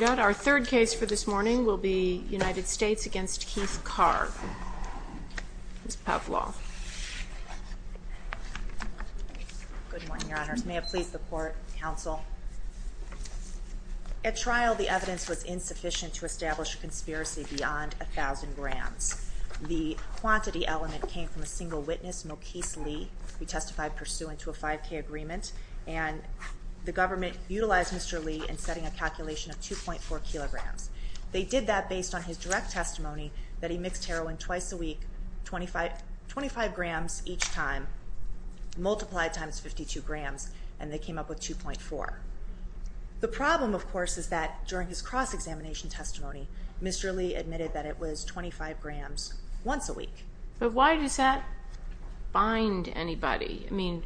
All right, our third case for this morning will be United States v. Keith Carr, Ms. Pavlov. Good morning, Your Honors. May it please the Court, Counsel. At trial, the evidence was insufficient to establish a conspiracy beyond 1,000 grams. The quantity element came from a single witness, Mokese Lee. He testified pursuant to a 5K agreement, and the government utilized Mr. Lee in setting a calculation of 2.4 kilograms. They did that based on his direct testimony that he mixed heroin twice a week, 25 grams each time, multiplied times 52 grams, and they came up with 2.4. The problem, of course, is that during his cross-examination testimony, Mr. Lee admitted that it was 25 grams once a week. But why does that bind anybody? I mean,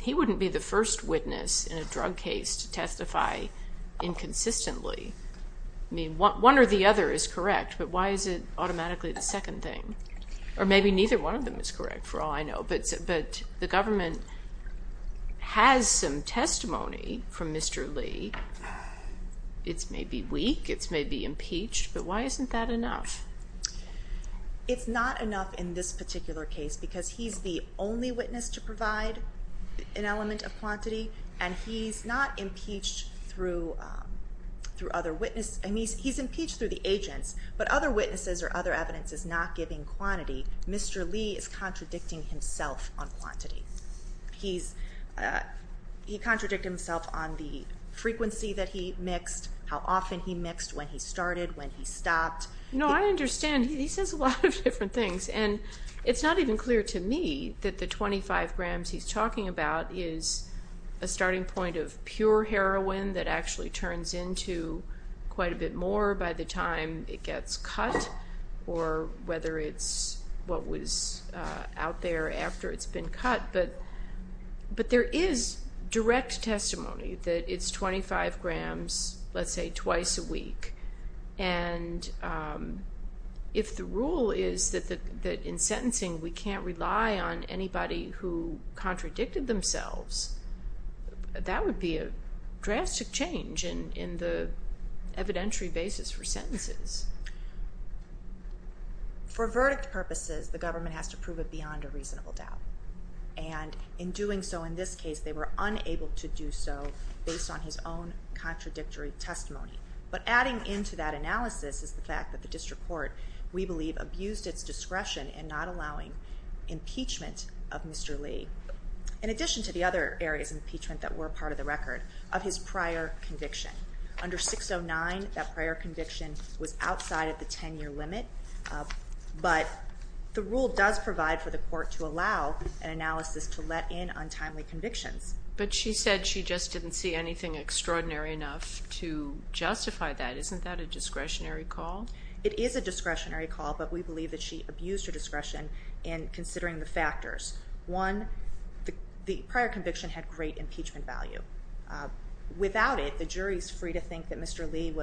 he wouldn't be the first witness in a drug case to testify inconsistently. I mean, one or the other is correct, but why is it automatically the second thing? Or maybe neither one of them is correct, for all I know. But the government has some testimony from Mr. Lee. It's maybe weak, it's maybe impeached, but why isn't that enough? It's not enough in this particular case because he's the only witness to provide an element of quantity, and he's not impeached through other witnesses. I mean, he's impeached through the agents, but other witnesses or other evidence is not giving quantity. Mr. Lee is contradicting himself on quantity. He's, he contradicted himself on the frequency that he mixed, how often he mixed, when he started, when he stopped. No, I understand. He says a lot of different things, and it's not even clear to me that the 25 grams he's talking about is a starting point of pure heroin that actually turns into quite a bit more by the time it gets cut, or whether it's what was out there after it's been cut. But there is direct testimony that it's 25 grams, let's say, twice a week. And if the rule is that in sentencing we can't rely on anybody who contradicted themselves, that would be a drastic change in the evidentiary basis for sentences. For verdict purposes, the government has to prove it beyond a reasonable doubt. And in doing so in this case, they were unable to do so based on his own contradictory testimony. But adding into that analysis is the fact that the district court, we believe, abused its discretion in not allowing impeachment of Mr. Lee, in addition to the other areas of impeachment that were part of the record, of his prior conviction. Under 609, that prior conviction was outside of the 10-year limit. But the rule does provide for the court to allow an analysis to let in untimely convictions. But she said she just didn't see anything extraordinary enough to justify that. Isn't that a discretionary call? It is a discretionary call, but we believe that she abused her discretion in considering the factors. One, the prior conviction had great impeachment value. Without it, the jury is free to think that Mr. Lee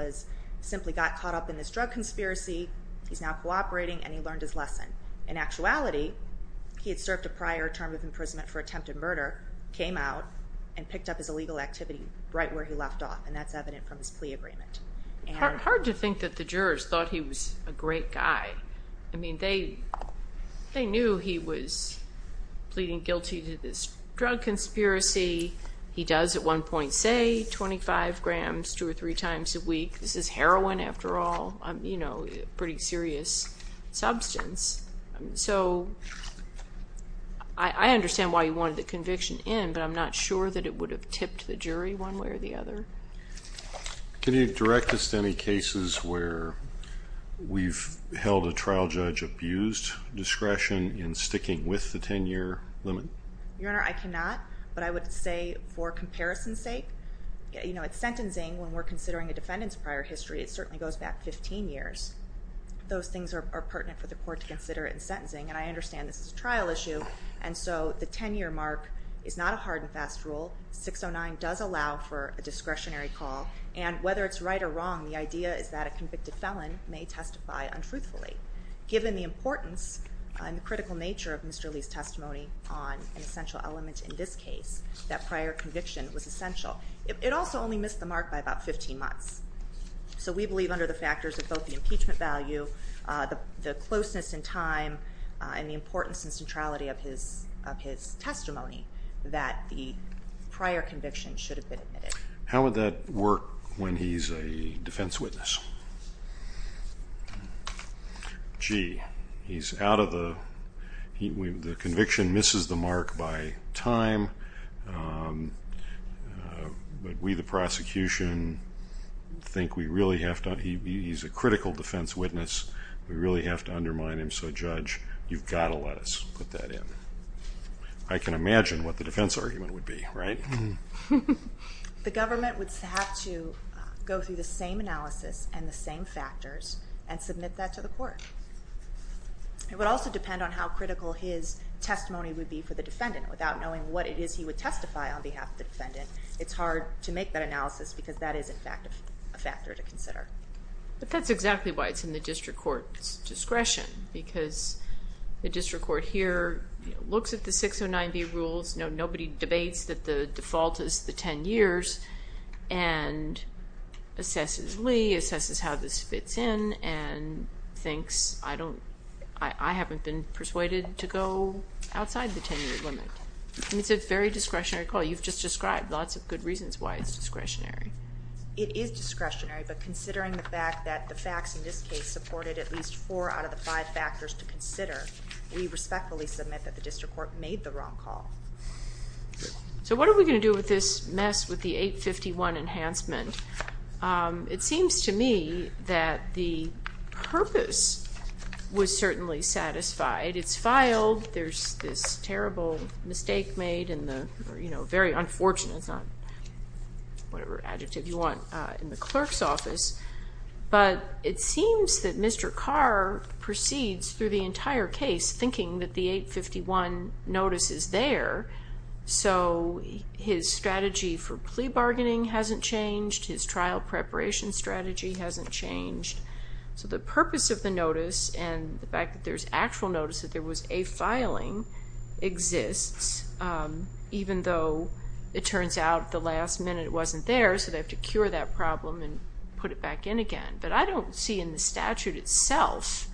simply got caught up in this drug conspiracy, he's now cooperating, and he learned his lesson. In actuality, he had served a prior term of imprisonment for attempted murder, came out, and picked up his illegal activity right where he left off, and that's evident from his plea agreement. Hard to think that the jurors thought he was a great guy. I mean, they knew he was pleading guilty to this drug conspiracy. He does, at one point, say 25 grams two or three times a week. This is heroin, after all, you know, a pretty serious substance. So, I understand why he wanted the conviction in, but I'm not sure that it would have tipped the jury one way or the other. Can you direct us to any cases where we've held a trial judge abused discretion in sticking with the 10-year limit? Your Honor, I cannot, but I would say for comparison's sake, you know, it's sentencing when we're considering a defendant's prior history. It certainly goes back 15 years. Those things are pertinent for the court to consider in sentencing, and I understand this is a trial issue, and so the 10-year mark is not a hard and fast rule. 609 does allow for a discretionary call, and whether it's right or wrong, the idea is that a convicted felon may testify untruthfully. Given the importance and the critical nature of Mr. Lee's testimony on an essential element in this case, that prior conviction was essential. It also only missed the mark by about 15 months. So, we believe under the factors of both the importance and centrality of his testimony, that the prior conviction should have been admitted. How would that work when he's a defense witness? Gee, he's out of the, the conviction misses the mark by time, but we, the prosecution, think we really have to, he's a critical defense witness, we really have to undermine him, so Judge, you've got to let us put that in. I can imagine what the defense argument would be, right? The government would have to go through the same analysis and the same factors and submit that to the court. It would also depend on how critical his testimony would be for the defendant. Without knowing what it is he would testify on behalf of the defendant, it's hard to make that analysis because that is, in fact, a factor to consider. But that's exactly why it's in the district court's discretion, because the district court here looks at the 609B rules, nobody debates that the default is the 10 years, and assesses Lee, assesses how this fits in, and thinks, I don't, I haven't been persuaded to go outside the 10 year limit. It's a very discretionary call. You've just described lots of good reasons why it's discretionary. It is discretionary, but considering the fact that the facts in this case supported at least four out of the five factors to consider, we respectfully submit that the district court made the wrong call. So what are we going to do with this mess with the 851 enhancement? It seems to me that the purpose was certainly satisfied. It's filed, there's this terrible mistake made in the, very unfortunate, it's not whatever adjective you want, in the clerk's office. But it seems that Mr. Carr proceeds through the entire case thinking that the 851 notice is there, so his strategy for plea bargaining hasn't changed, his trial preparation strategy hasn't changed. So the purpose of the notice, and the fact that there's actual notice that there was a filing, exists, even though it turns out at the last minute it wasn't there, so they have to cure that problem and put it back in again. But I don't see in the statute itself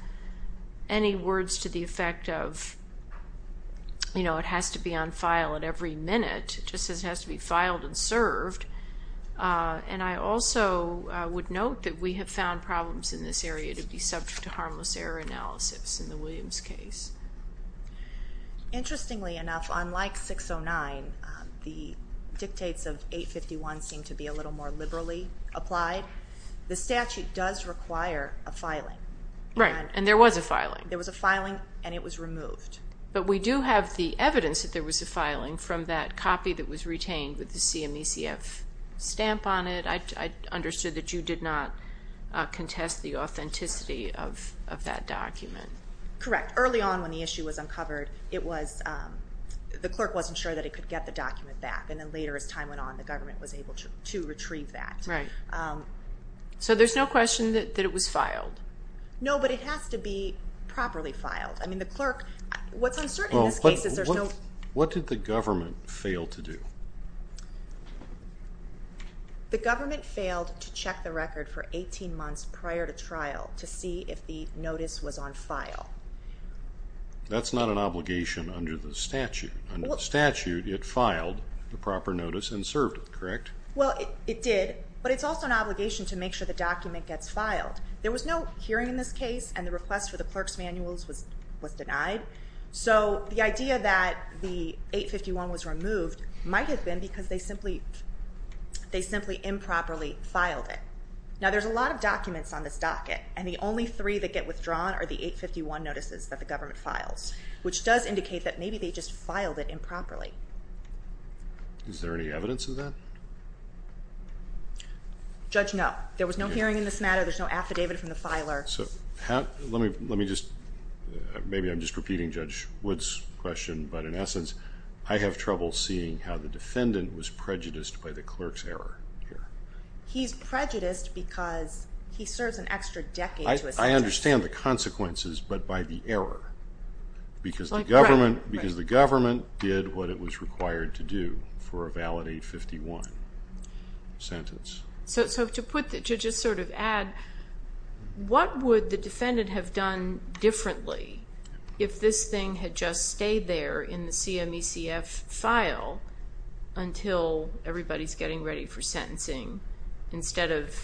any words to the effect of, you know, it has to be on file at every minute, it just has to be filed and served. And I also would note that we have found problems in this area to be subject to harmless error analysis in the Williams case. Interestingly enough, unlike 609, the dictates of 851 seem to be a little more liberally applied. The statute does require a filing. Right, and there was a filing. There was a filing and it was removed. But we do have the evidence that there was a filing from that copy that was retained with the CMECF stamp on it. I understood that you did not contest the authenticity of that document. Correct. Early on when the issue was uncovered, it was, the clerk wasn't sure that it could get the document back. And then later as time went on, the government was able to retrieve that. Right. So there's no question that it was filed? No, but it has to be properly filed. I mean, the clerk, what's uncertain in this case is there's no... The government failed to check the record for 18 months prior to trial to see if the notice was on file. That's not an obligation under the statute. Under the statute, it filed the proper notice and served it, correct? Well, it did, but it's also an obligation to make sure the document gets filed. There was no hearing in this case and the request for the clerk's manuals was denied. So the idea that the 851 was removed might have been because they simply improperly filed it. Now there's a lot of documents on this docket and the only three that get withdrawn are the 851 notices that the government files, which does indicate that maybe they just filed it improperly. Is there any evidence of that? Judge, no. There was no hearing in this matter. There's no affidavit from the filer. So let me just, maybe I'm just repeating Judge Wood's question, but in essence, I have trouble seeing how the defendant was prejudiced by the clerk's error here. He's prejudiced because he serves an extra decade to a sentence. I understand the consequences, but by the error, because the government did what it was required to do for a valid 851 sentence. So to put, to just sort of add, what would the defendant have done differently if this thing had just stayed there in the CMECF file until everybody's getting ready for sentencing instead of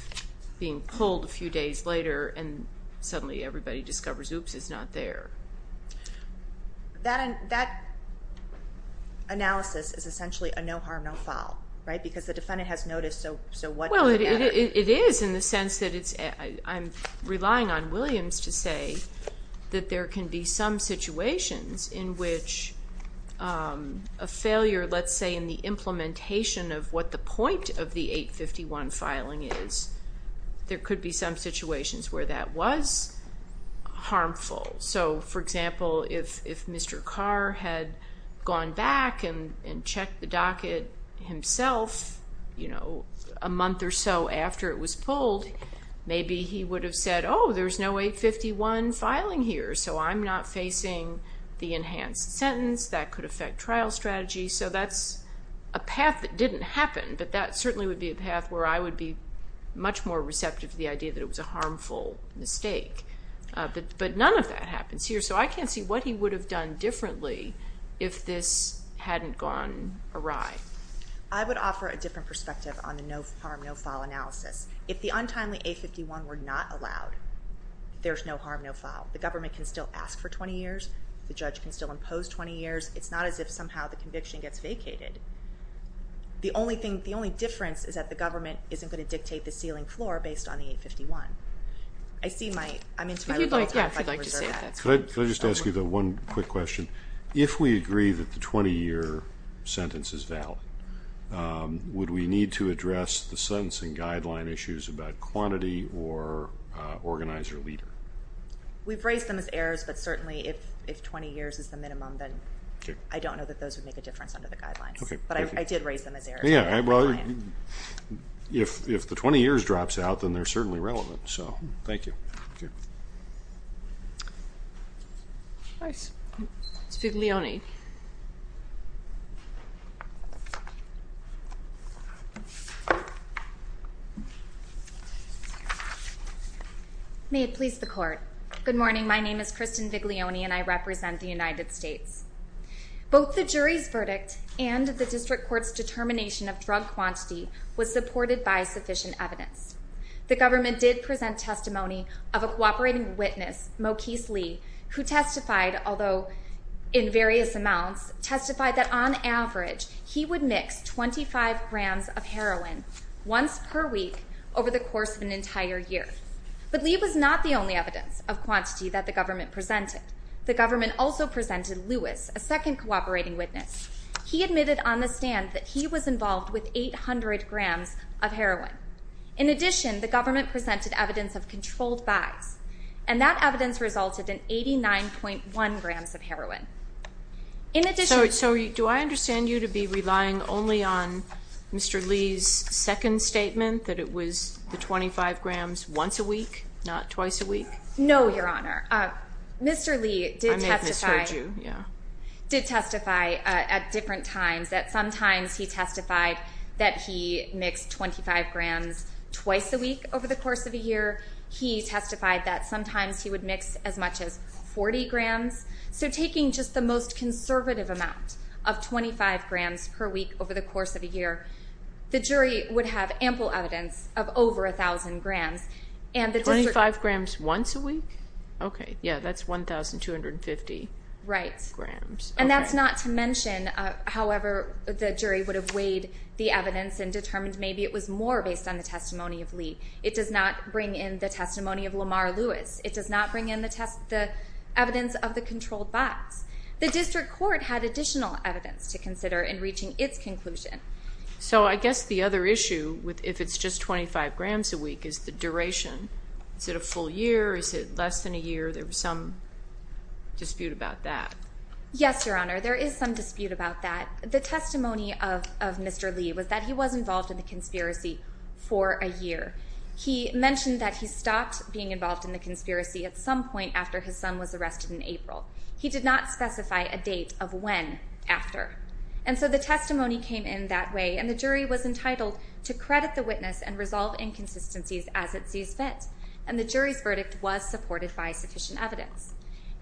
being pulled a few days later and suddenly everybody discovers, oops, it's not there. That analysis is essentially a no harm, no foul, right? Because the defendant has noticed, so what does it matter? Well, it is in the sense that it's, I'm relying on Williams to say that there can be some situations in which a failure, let's say in the implementation of what the point of the 851 filing is, there could be some situations where that was harmful. So for example, if Mr. Carr had gone back and checked the docket himself, you know, a month or so after it was pulled, maybe he would have said, oh, there's no 851 filing here, so I'm not facing the enhanced sentence. That could affect trial strategy. So that's a path that didn't happen, but that certainly would be a path where I would be much more receptive to the idea that it was a harmful mistake. But none of that happens here, so I can't see what he would have done differently if this hadn't gone awry. I would offer a different perspective on the no harm, no foul analysis. If the untimely 851 were not allowed, there's no harm, no foul. The government can still ask for 20 years. The judge can still impose 20 years. It's not as if somehow the conviction gets vacated. The only thing, the only difference is that the government isn't going to dictate the ceiling floor based on the 851. I see my, I'm into my little time, if I can reserve that. Could I just ask you the one quick question? If we agree that the 20 year sentence is valid, would we need to address the sentencing guideline issues about quantity or organizer leader? We've raised them as errors, but certainly if 20 years is the minimum, then I don't know that those would make a difference under the guidelines. But I did raise them as errors. Yeah, well, if the 20 years drops out, then they're certainly relevant, so. Thank you. Nice. It's Viglione. May it please the court. Good morning. My name is Kristen Viglione and I represent the United States. Both the jury's verdict and the district court's determination of drug testimony of a cooperating witness, Mokese Lee, who testified, although in various amounts, testified that on average he would mix 25 grams of heroin once per week over the course of an entire year. But Lee was not the only evidence of quantity that the government presented. The government also presented Lewis, a second cooperating witness. He admitted on the stand that he was involved with 800 grams of heroin. In addition, the government presented evidence of controlled buys, and that evidence resulted in 89.1 grams of heroin. In addition... So do I understand you to be relying only on Mr. Lee's second statement, that it was the 25 grams once a week, not twice a week? No, Your Honor. Mr. Lee did testify... I may have misheard you, yeah. Did testify at different times, that sometimes he testified that he mixed 25 grams twice a week over the course of a year. He testified that sometimes he would mix as much as 40 grams. So taking just the most conservative amount of 25 grams per week over the course of a year, the jury would have ample evidence of over 1,000 grams. Twenty-five grams once a week? Okay, yeah, that's 1,250 grams. And that's not to mention, however, the jury would have weighed the evidence and determined maybe it was more based on the testimony of Lee. It does not bring in the testimony of Lamar Lewis. It does not bring in the evidence of the controlled buys. The district court had additional evidence to consider in reaching its conclusion. So I guess the other issue, if it's just 25 grams a week, is the duration. Is it a full year? Is it less than a year? There was some dispute about that. Yes, Your Honor, there is some dispute about that. The testimony of Mr. Lee was that he was involved in the conspiracy for a year. He mentioned that he stopped being involved in the conspiracy at some point after his son was arrested in April. He did not specify a date of when after. And so the testimony came in that way, and the jury was entitled to credit the witness and resolve inconsistencies as it sees fit. And the jury's verdict was supported by sufficient evidence.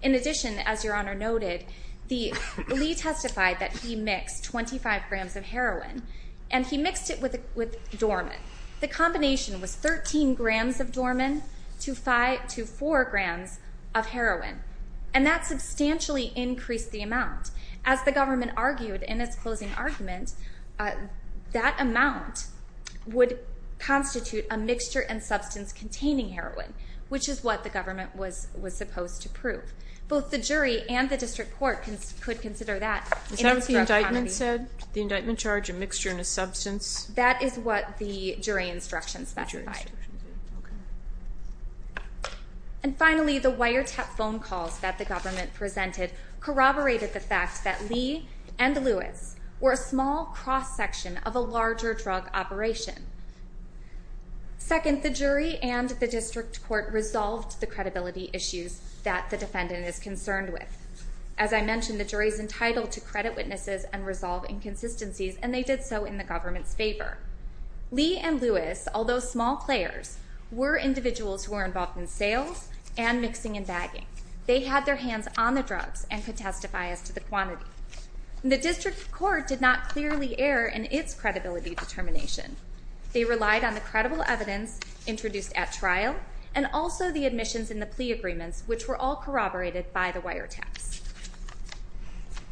In addition, as Your Honor noted, Lee testified that he mixed 25 grams of heroin, and he mixed it with Dormin. The combination was 13 grams of Dormin to 4 grams of heroin, and that substantially increased the amount. As the government argued in its closing argument, that amount would constitute a mixture and substance containing heroin, which is what the government was supposed to prove. Both the jury and the district court could consider that in extra accountability. The indictment charge, a mixture and a substance? That is what the jury instruction specified. And finally, the wiretap phone calls that the government presented corroborated the fact that Lee and Lewis were a small cross-section of a larger drug operation. Second, the jury and the district court resolved the credibility issues that the defendant is concerned with. As I mentioned, the jury is entitled to credit witnesses and resolve inconsistencies, and they did so in the government's favor. Lee and Lewis, although small players, were individuals who were involved in sales and mixing and bagging. They had their hands on the drugs and could testify as to the quantity. The district court did not clearly err in its credibility determination. They relied on the credible evidence introduced at trial, and also the admissions and the plea agreements, which were all corroborated by the wiretaps.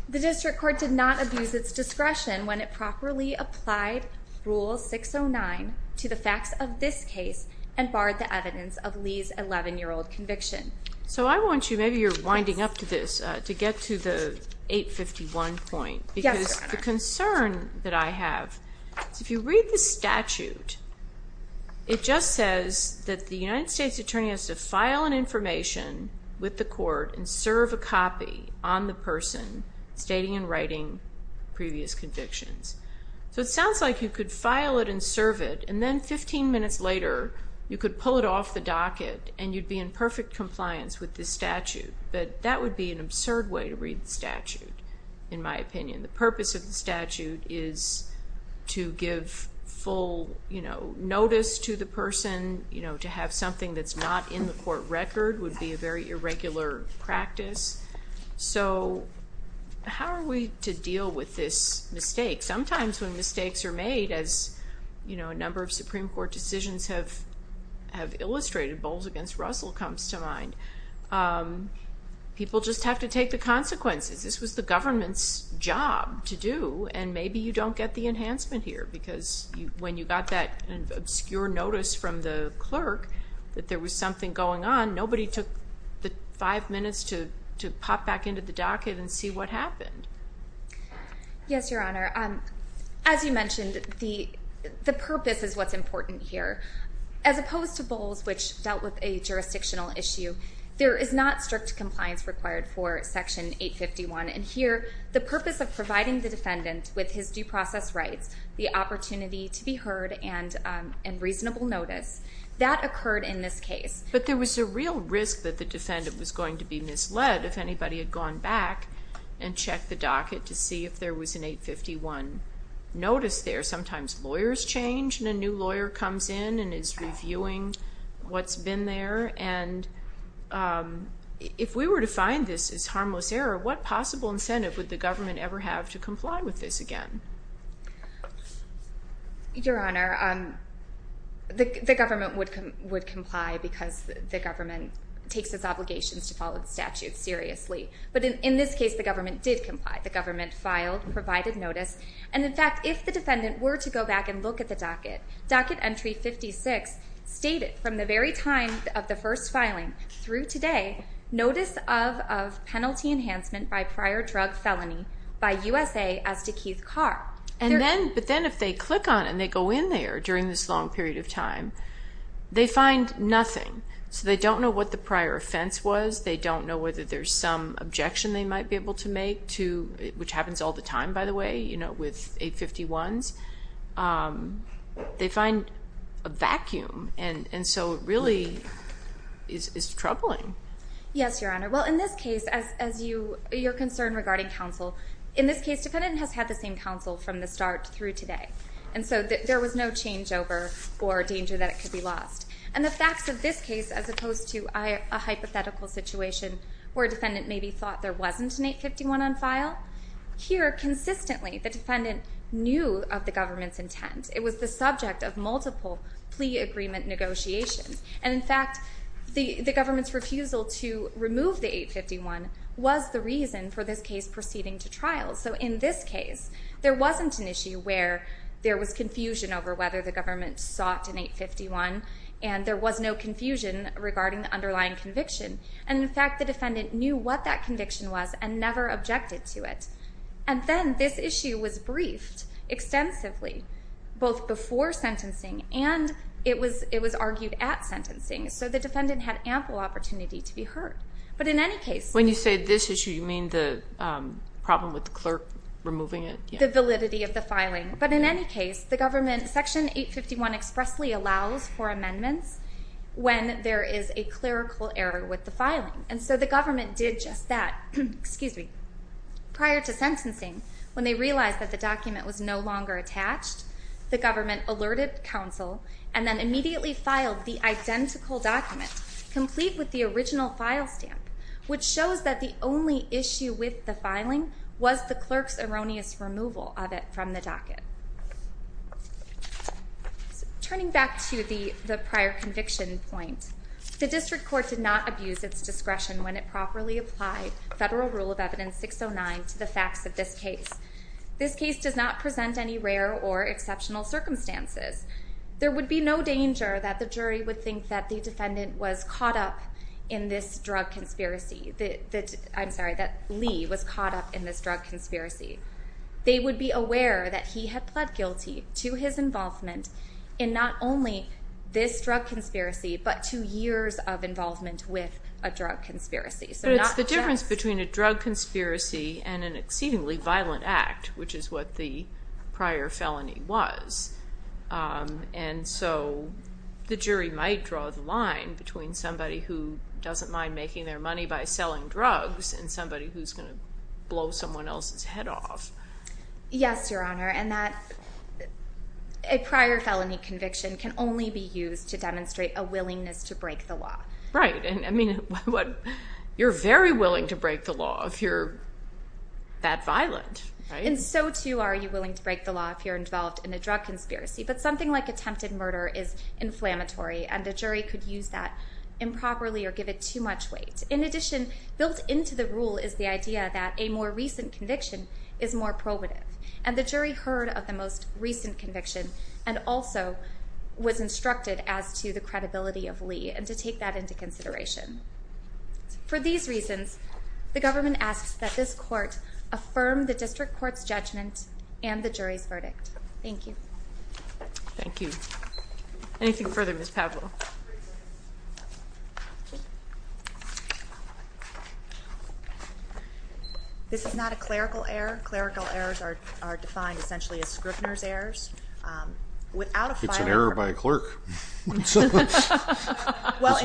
The district court did not abuse its discretion when it properly applied Rule 609 to the facts of this case and barred the evidence of Lee's 11-year-old conviction. So I want you, maybe you're winding up to this, to get to the 851 point. Yes, Your Honor. Because the concern that I have is if you read the statute, it just says that the United Court and serve a copy on the person stating and writing previous convictions. So it sounds like you could file it and serve it, and then 15 minutes later, you could pull it off the docket and you'd be in perfect compliance with this statute, but that would be an absurd way to read the statute, in my opinion. The purpose of the statute is to give full notice to the person, to have something that's not in the court record would be a very irregular practice. So how are we to deal with this mistake? Sometimes when mistakes are made, as a number of Supreme Court decisions have illustrated, Bowles v. Russell comes to mind, people just have to take the consequences. This was the government's job to do, and maybe you don't get the enhancement here, because when you got that obscure notice from the clerk that there was something going on, nobody took the five minutes to pop back into the docket and see what happened. Yes, Your Honor. As you mentioned, the purpose is what's important here. As opposed to Bowles, which dealt with a jurisdictional issue, there is not strict compliance required for Section 851, and here, the purpose of providing the defendant with his due process rights, the opportunity to be heard, and reasonable notice. That occurred in this case. But there was a real risk that the defendant was going to be misled if anybody had gone back and checked the docket to see if there was an 851 notice there. Sometimes lawyers change, and a new lawyer comes in and is reviewing what's been there, and if we were to find this as harmless error, what possible incentive would the government ever have to comply with this again? Your Honor, the government would comply because the government takes its obligations to follow the statute seriously. But in this case, the government did comply. The government filed, provided notice, and in fact, if the defendant were to go back and look at the docket, Docket Entry 56 stated from the very time of the first filing through to today, Notice of Penalty Enhancement by Prior Drug Felony by USA as to Keith Carr. But then if they click on it, and they go in there during this long period of time, they find nothing. So they don't know what the prior offense was. They don't know whether there's some objection they might be able to make, which happens all the time, by the way, with 851s. They find a vacuum, and so it really is troubling. Yes, Your Honor. Well, in this case, as your concern regarding counsel, in this case, the defendant has had the same counsel from the start through today. And so there was no changeover or danger that it could be lost. And the facts of this case, as opposed to a hypothetical situation where a defendant maybe thought there wasn't an 851 on file, here, consistently, the defendant knew of the government's intent. It was the subject of multiple plea agreement negotiations. And in fact, the government's refusal to remove the 851 was the reason for this case proceeding to trial. So in this case, there wasn't an issue where there was confusion over whether the government sought an 851, and there was no confusion regarding the underlying conviction. And in fact, the defendant knew what that conviction was and never objected to it. And then this issue was briefed extensively, both before sentencing and it was argued at sentencing. So the defendant had ample opportunity to be heard. But in any case... When you say this issue, you mean the problem with the clerk removing it? The validity of the filing. But in any case, the government, Section 851 expressly allows for amendments when there is a clerical error with the filing. And so the government did just that, prior to sentencing, when they realized that the document was no longer attached, the government alerted counsel and then immediately filed the identical document, complete with the original file stamp, which shows that the only issue with the filing was the clerk's erroneous removal of it from the docket. Turning back to the prior conviction point, the District Court did not abuse its discretion when it properly applied Federal Rule of Evidence 609 to the facts of this case. This case does not present any rare or exceptional circumstances. There would be no danger that the jury would think that the defendant was caught up in this drug conspiracy... I'm sorry, that Lee was caught up in this drug conspiracy. They would be aware that he had pled guilty to his involvement in not only this drug conspiracy, but two years of involvement with a drug conspiracy. So not just... But it's the difference between a drug conspiracy and an exceedingly violent act, which is what the prior felony was. And so the jury might draw the line between somebody who doesn't mind making their money by selling drugs and somebody who's going to blow someone else's head off. Yes, Your Honor, and that prior felony conviction can only be used to demonstrate a willingness to break the law. Right. And I mean, you're very willing to break the law if you're that violent, right? And so too are you willing to break the law if you're involved in a drug conspiracy. But something like attempted murder is inflammatory and the jury could use that improperly or give it too much weight. In addition, built into the rule is the idea that a more recent conviction is more probative. And the jury heard of the most recent conviction and also was instructed as to the credibility of Lee and to take that into consideration. For these reasons, the government asks that this court affirm the district court's judgment and the jury's verdict. Thank you. Thank you. Anything further, Ms. Pavlo? This is not a clerical error. Clerical errors are defined essentially as Scrivner's errors. It's an error by a clerk. Well,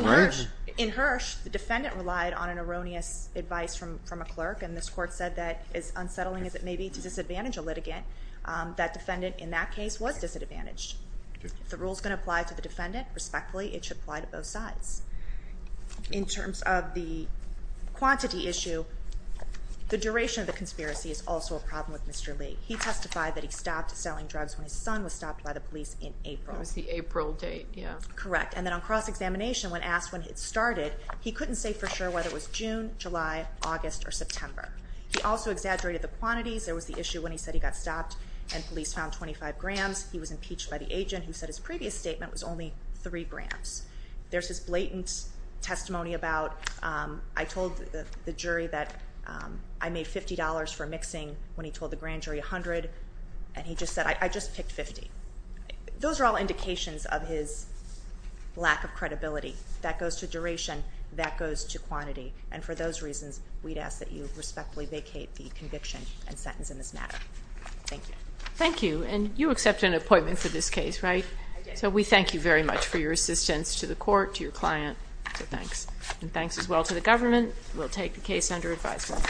in Hirsch, the defendant relied on an erroneous advice from a clerk and this court said that as unsettling as it may be to disadvantage a litigant, that defendant in that case was disadvantaged. If the rule's going to apply to the defendant, respectfully, it should apply to both sides. In terms of the quantity issue, the duration of the conspiracy is also a problem with Mr. Lee. He testified that he stopped selling drugs when his son was stopped by the police in April. That was the April date, yeah. Correct. And then on cross-examination, when asked when it started, he couldn't say for sure whether it was June, July, August, or September. He also exaggerated the quantities. There was the issue when he said he got stopped and police found 25 grams. He was impeached by the agent who said his previous statement was only three grams. There's this blatant testimony about, I told the jury that I made $50 for mixing when he told the grand jury 100, and he just said, I just picked 50. Those are all indications of his lack of credibility. That goes to duration. That goes to quantity. And for those reasons, we'd ask that you respectfully vacate the conviction and sentence in this matter. Thank you. Thank you. And you accept an appointment for this case, right? I do. So we thank you very much for your assistance to the court, to your client. So thanks. And thanks as well to the government. We'll take the case under advisement.